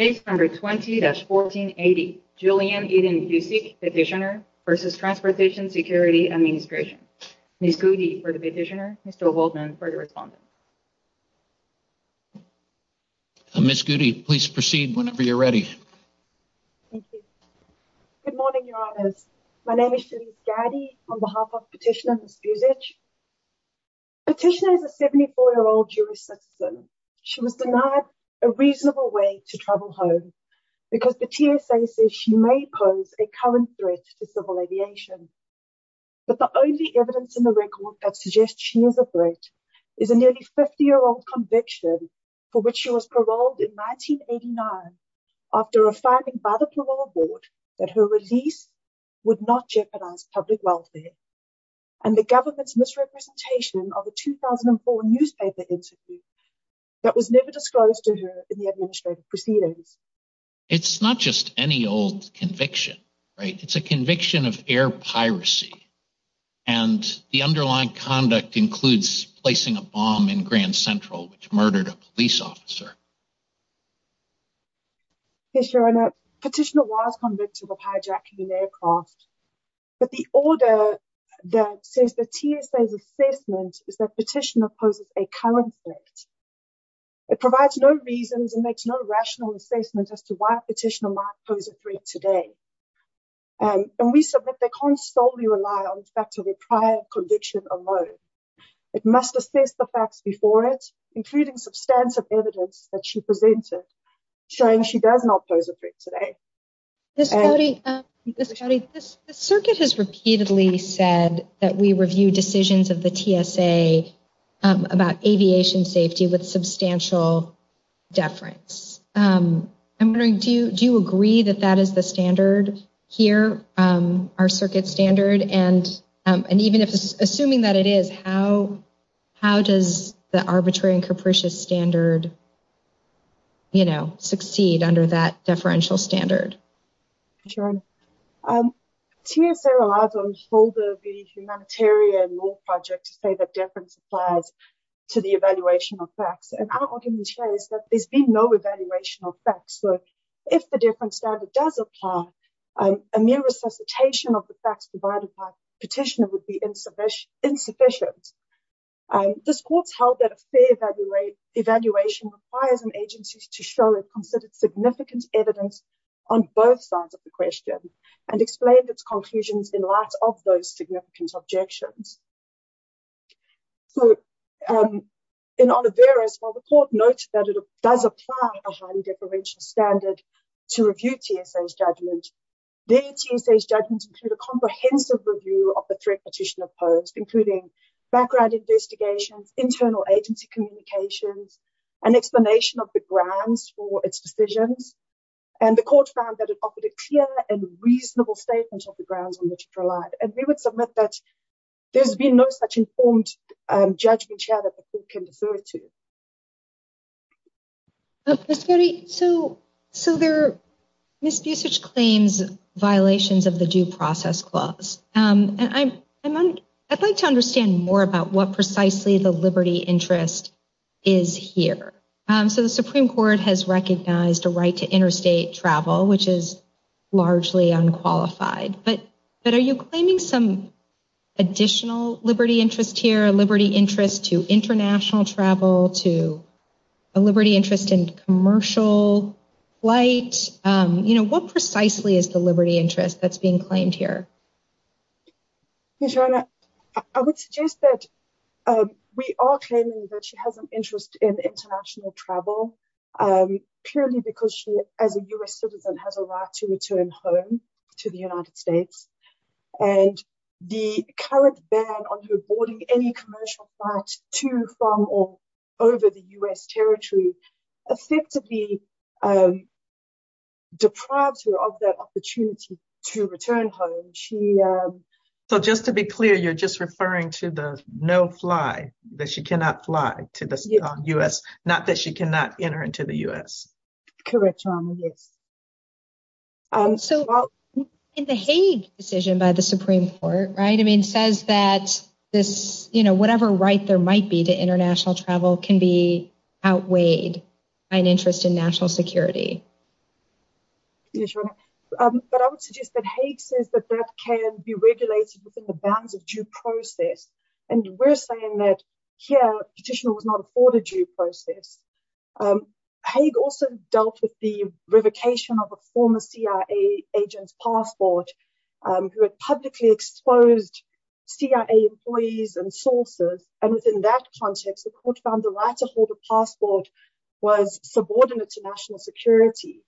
Case number 20-1480, Julianne Eden Busic, Petitioner v. Transportation Security Administration. Ms. Goody for the Petitioner, Mr. Holtman for the Respondent. Ms. Goody, please proceed whenever you're ready. Thank you. Good morning, Your Honors. My name is Shelise Gaddy on behalf of Petitioner Ms. Busic. Petitioner is a 74-year-old Jewish citizen. She was denied a reasonable way to travel home because the TSA says she may pose a current threat to civil aviation. But the only evidence in the record that suggests she is a threat is a nearly 50-year-old conviction for which she was paroled in 1989 after affirming by the parole board that her release would not jeopardize public welfare. And the government's misrepresentation of a 2004 newspaper interview that was never disclosed to her in the administrative proceedings. It's not just any old conviction, right? It's a conviction of air piracy. And the underlying conduct includes placing a bomb in Grand Central, which murdered a police officer. Petitioner was convicted of hijacking an aircraft. But the order that says the TSA's assessment is that Petitioner poses a current threat. It provides no reasons and makes no rational assessment as to why Petitioner might pose a threat today. And we submit they can't solely rely on the fact of a prior conviction alone. It must assess the facts before it, including substantive evidence that she presented showing she does not pose a threat today. This circuit has repeatedly said that we review decisions of the TSA about aviation safety with substantial deference. I'm wondering, do you agree that that is the standard here? Our circuit standard. And and even if assuming that it is, how how does the arbitrary and capricious standard. You know, succeed under that deferential standard. Sure. TSA allows all the humanitarian law projects say that difference applies to the evaluation of facts. And our argument is that there's been no evaluation of facts. So if the deference standard does apply, a mere resuscitation of the facts provided by Petitioner would be insufficient. This court's held that a fair evaluation requires an agency to show it considered significant evidence on both sides of the question and explained its conclusions in light of those significant objections. So in honor of various, while the court notes that it does apply a highly deferential standard to review TSA's judgment, the TSA's judgment include a comprehensive review of the threat Petitioner posed, including background investigations, internal agency communications and explanation of the grounds for its decisions. And the court found that it offered a clear and reasonable statement of the grounds on which it relied. And we would submit that there's been no such informed judgment here that the court can defer to. So so there are misusage claims, violations of the due process clause. And I'm I'd like to understand more about what precisely the liberty interest is here. So the Supreme Court has recognized a right to interstate travel, which is largely unqualified. But but are you claiming some additional liberty interest here, liberty interest to international travel to a liberty interest in commercial flight? You know, what precisely is the liberty interest that's being claimed here? I would suggest that we are claiming that she has an interest in international travel purely because she, as a US citizen, has a right to return home to the United States. And the current ban on her boarding any commercial flight to, from or over the US territory effectively deprived her of that opportunity to return home. She. So just to be clear, you're just referring to the no fly that she cannot fly to the US, not that she cannot enter into the US. Correct. Yes. So in the Hague decision by the Supreme Court, right. I mean, says that this, you know, whatever right there might be to international travel can be outweighed by an interest in national security. But I would suggest that Hague says that that can be regulated within the bounds of due process. And we're saying that here petition was not afforded due process. Hague also dealt with the revocation of a former CIA agent's passport who had publicly exposed CIA employees and sources. And within that context, the court found the right to hold a passport was subordinate to national security.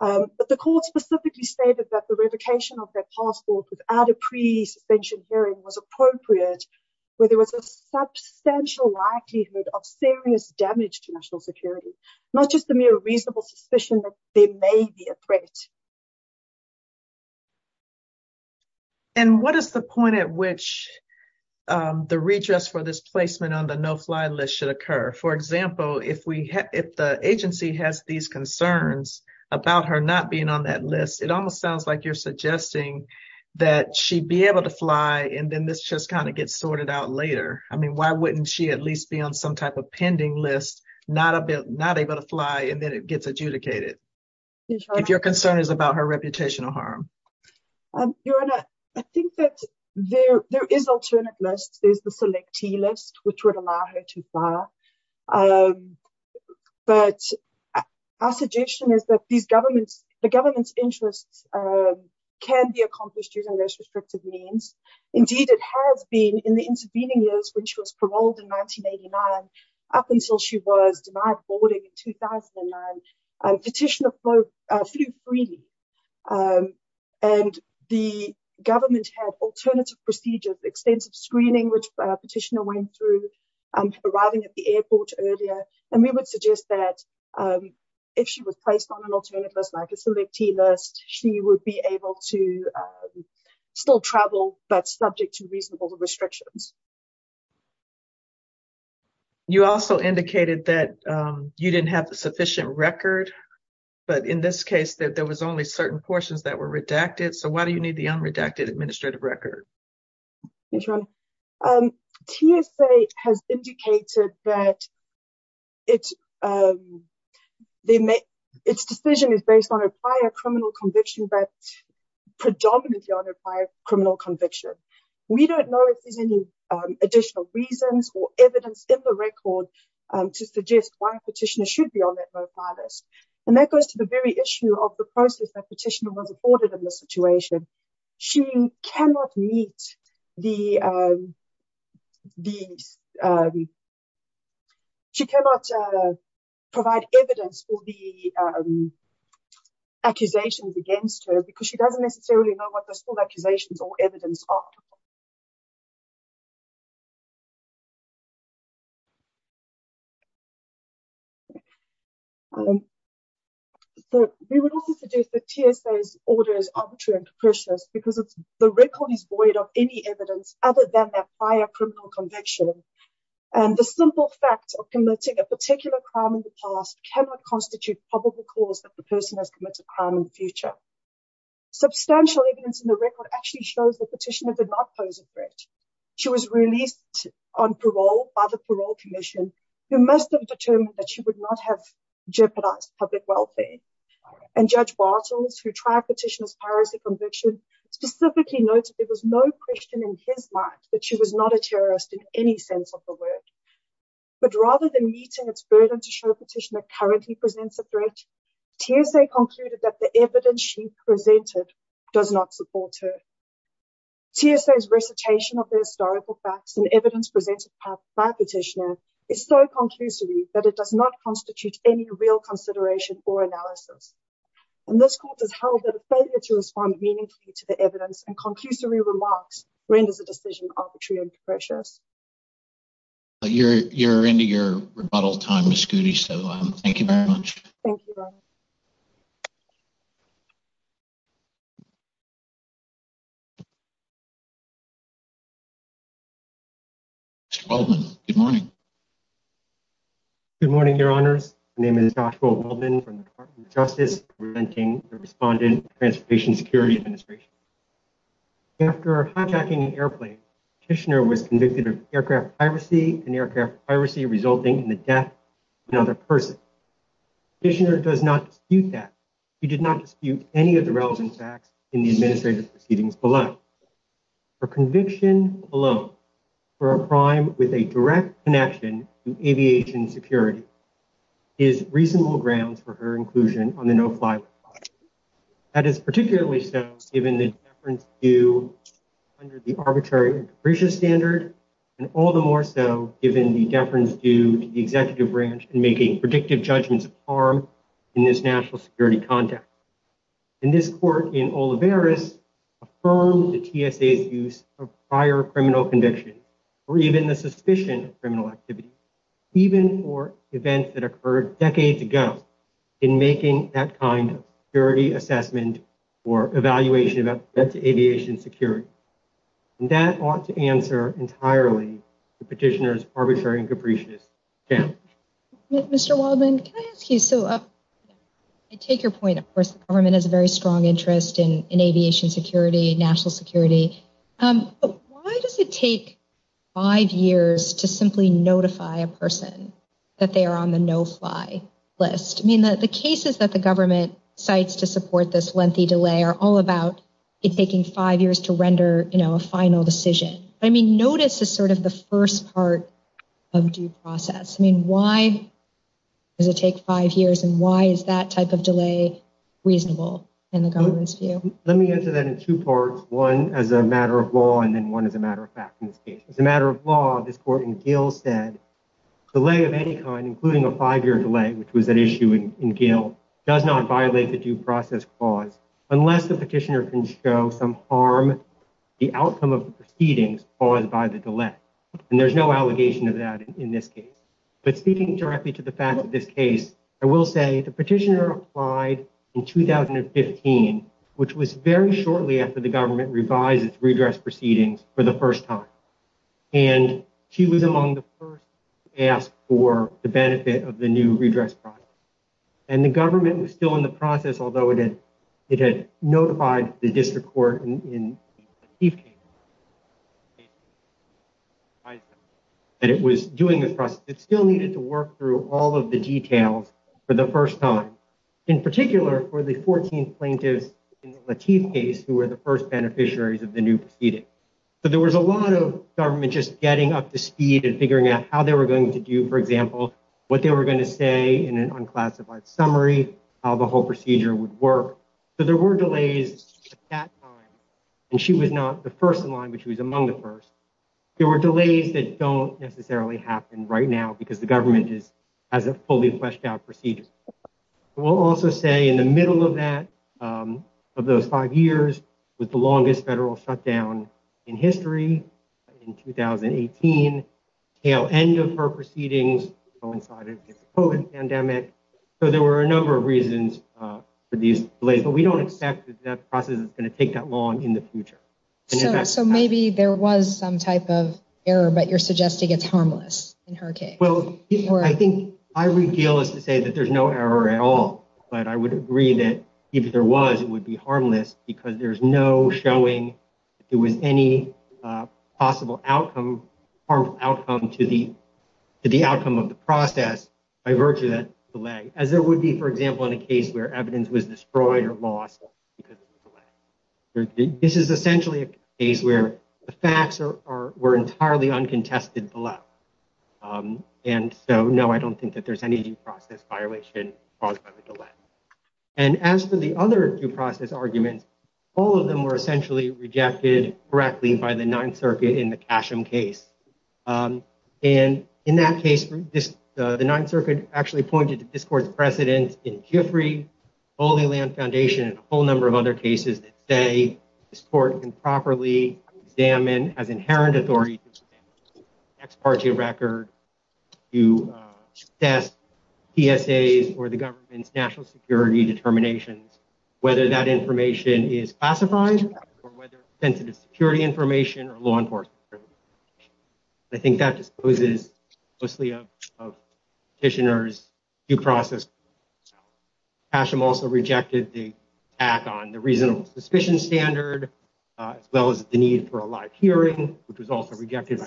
But the court specifically stated that the revocation of that passport without a pre suspension hearing was appropriate, where there was a substantial likelihood of serious damage to national security, not just the mere reasonable suspicion that there may be a threat. And what is the point at which the redress for this placement on the no fly list should occur? For example, if we if the agency has these concerns about her not being on that list, it almost sounds like you're suggesting that she'd be able to fly. And then this just kind of gets sorted out later. I mean, why wouldn't she at least be on some type of pending list? Not a bit, not able to fly. And then it gets adjudicated. If your concern is about her reputation or harm. Your Honor, I think that there is alternate lists. There's the selectee list, which would allow her to fly. But our suggestion is that these governments, the government's interests can be accomplished using those restrictive means. Indeed, it has been in the intervening years when she was paroled in 1989 up until she was denied boarding in 2009. Petitioner flew freely and the government had alternative procedures, extensive screening, which petitioner went through arriving at the airport earlier. And we would suggest that if she was placed on an alternate list like a selectee list, she would be able to still travel, but subject to reasonable restrictions. You also indicated that you didn't have the sufficient record, but in this case, that there was only certain portions that were redacted. So why do you need the unredacted administrative record? TSA has indicated that its decision is based on a prior criminal conviction, but predominantly on a prior criminal conviction. We don't know if there's any additional reasons or evidence in the record to suggest why a petitioner should be on that list. And that goes to the very issue of the process that petitioner was afforded in this situation. She cannot meet the. She cannot provide evidence for the accusations against her because she doesn't necessarily know what those accusations or evidence are. We would also suggest that TSA's order is arbitrary and preposterous because the record is void of any evidence other than that prior criminal conviction. And the simple fact of committing a particular crime in the past cannot constitute probable cause that the person has committed a crime in the future. Substantial evidence in the record actually shows the petitioner did not pose a threat. She was released on parole by the parole commission, who must have determined that she would not have jeopardized public welfare. And Judge Bartels, who tried petitioner's piracy conviction, specifically noted there was no question in his mind that she was not a terrorist in any sense of the word. But rather than meeting its burden to show petitioner currently presents a threat, TSA concluded that the evidence she presented does not support her. TSA's recitation of the historical facts and evidence presented by petitioner is so conclusive that it does not constitute any real consideration or analysis. And this court has held that a failure to respond meaningfully to the evidence and conclusive remarks renders the decision arbitrary and preposterous. You're into your rebuttal time, Ms. Goody, so thank you very much. Thank you. Mr. Baldwin, good morning. Good morning, your honors. My name is Joshua Baldwin from the Department of Justice, representing the Respondent Transportation Security Administration. After hijacking an airplane, petitioner was convicted of aircraft piracy and aircraft piracy resulting in the death of another person. Petitioner does not dispute that. She did not dispute any of the relevant facts in the administrative proceedings below. Her conviction alone for a crime with a direct connection to aviation security is reasonable grounds for her inclusion on the no-fly list. That is particularly so given the deference due under the arbitrary and capricious standard, and all the more so given the deference due to the executive branch in making predictive judgments of harm in this national security context. And this court in Olivares affirmed the TSA's use of prior criminal conviction, or even the suspicion of criminal activity, even for events that occurred decades ago in making that kind of security assessment or evaluation of aviation security. And that ought to answer entirely the petitioner's arbitrary and capricious stand. Mr. Baldwin, can I ask you, so I take your point, of course, the government has a very strong interest in aviation security, national security. Why does it take five years to simply notify a person that they are on the no-fly list? I mean, the cases that the government cites to support this lengthy delay are all about it taking five years to render a final decision. I mean, notice is sort of the first part of due process. I mean, why does it take five years, and why is that type of delay reasonable in the government's view? Let me answer that in two parts, one as a matter of law, and then one as a matter of fact. As a matter of law, this court in Gill said, delay of any kind, including a five-year delay, which was an issue in Gill, does not violate the due process clause unless the petitioner can show some harm, the outcome of the proceedings caused by the delay. And there's no allegation of that in this case. But speaking directly to the fact of this case, I will say the petitioner applied in 2015, which was very shortly after the government revised its redress proceedings for the first time. And she was among the first to ask for the benefit of the new redress process. And the government was still in the process, although it had notified the district court in the Lateef case that it was doing the process. It still needed to work through all of the details for the first time, in particular for the 14 plaintiffs in the Lateef case who were the first beneficiaries of the new proceeding. So there was a lot of government just getting up to speed and figuring out how they were going to do, for example, what they were going to say in an unclassified summary, how the whole procedure would work. So there were delays at that time. And she was not the first in line, but she was among the first. There were delays that don't necessarily happen right now because the government has a fully fleshed-out procedure. We'll also say in the middle of that, of those five years with the longest federal shutdown in history in 2018, tail end of her proceedings coincided with the COVID pandemic. So there were a number of reasons for these delays, but we don't expect that process is going to take that long in the future. So maybe there was some type of error, but you're suggesting it's harmless in her case. Well, I think my real deal is to say that there's no error at all. But I would agree that if there was, it would be harmless because there's no showing there was any possible outcome, harmful outcome to the outcome of the process by virtue of that delay. As there would be, for example, in a case where evidence was destroyed or lost because of the delay. This is essentially a case where the facts were entirely uncontested below. And so, no, I don't think that there's any due process violation caused by the delay. And as for the other due process arguments, all of them were essentially rejected correctly by the Ninth Circuit in the Casham case. And in that case, the Ninth Circuit actually pointed to this court's precedent in Giffrey, Holy Land Foundation and a whole number of other cases that say this court can properly examine as inherent authority. Ex parte record to test PSAs or the government's national security determinations, whether that information is classified or whether sensitive security information or law enforcement. I think that disposes mostly of petitioners due process. Casham also rejected the act on the reasonable suspicion standard, as well as the need for a live hearing, which was also rejected.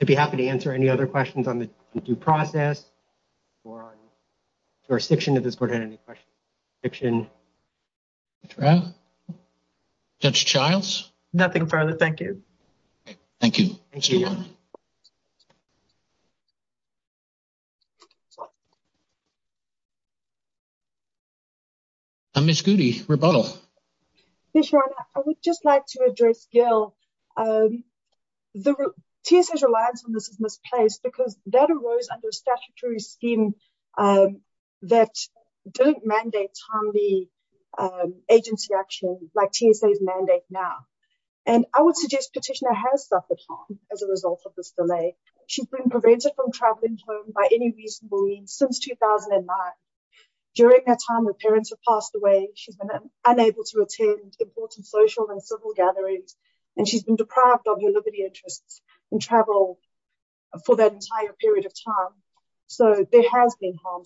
I'd be happy to answer any other questions on the due process or on jurisdiction of this court. Any question? Judge Childs. Nothing further. Thank you. Thank you. Ms. Goody rebuttal. I would just like to address Gil. The TSA's reliance on this is misplaced because that arose under statutory scheme that didn't mandate timely agency action like TSA's mandate now. And I would suggest petitioner has suffered harm as a result of this delay. She's been prevented from traveling home by any reasonable means since 2009. During that time, her parents have passed away. She's been unable to attend important social and civil gatherings, and she's been deprived of her liberty interests and travel for that entire period of time. So there has been harm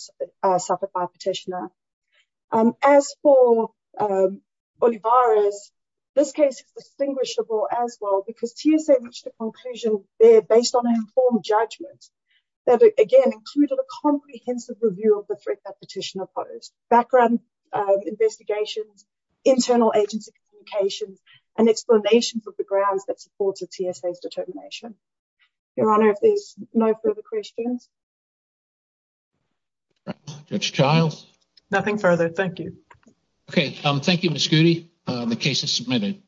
suffered by petitioner. As for Olivarez, this case is distinguishable as well, because TSA reached a conclusion based on an informed judgment that, again, included a comprehensive review of the threat that petitioner posed. Background investigations, internal agency communications, and explanations of the grounds that supported TSA's determination. Your Honor, if there's no further questions. Judge Childs. Nothing further. Thank you. Okay. Thank you, Ms. Goody. The case is submitted.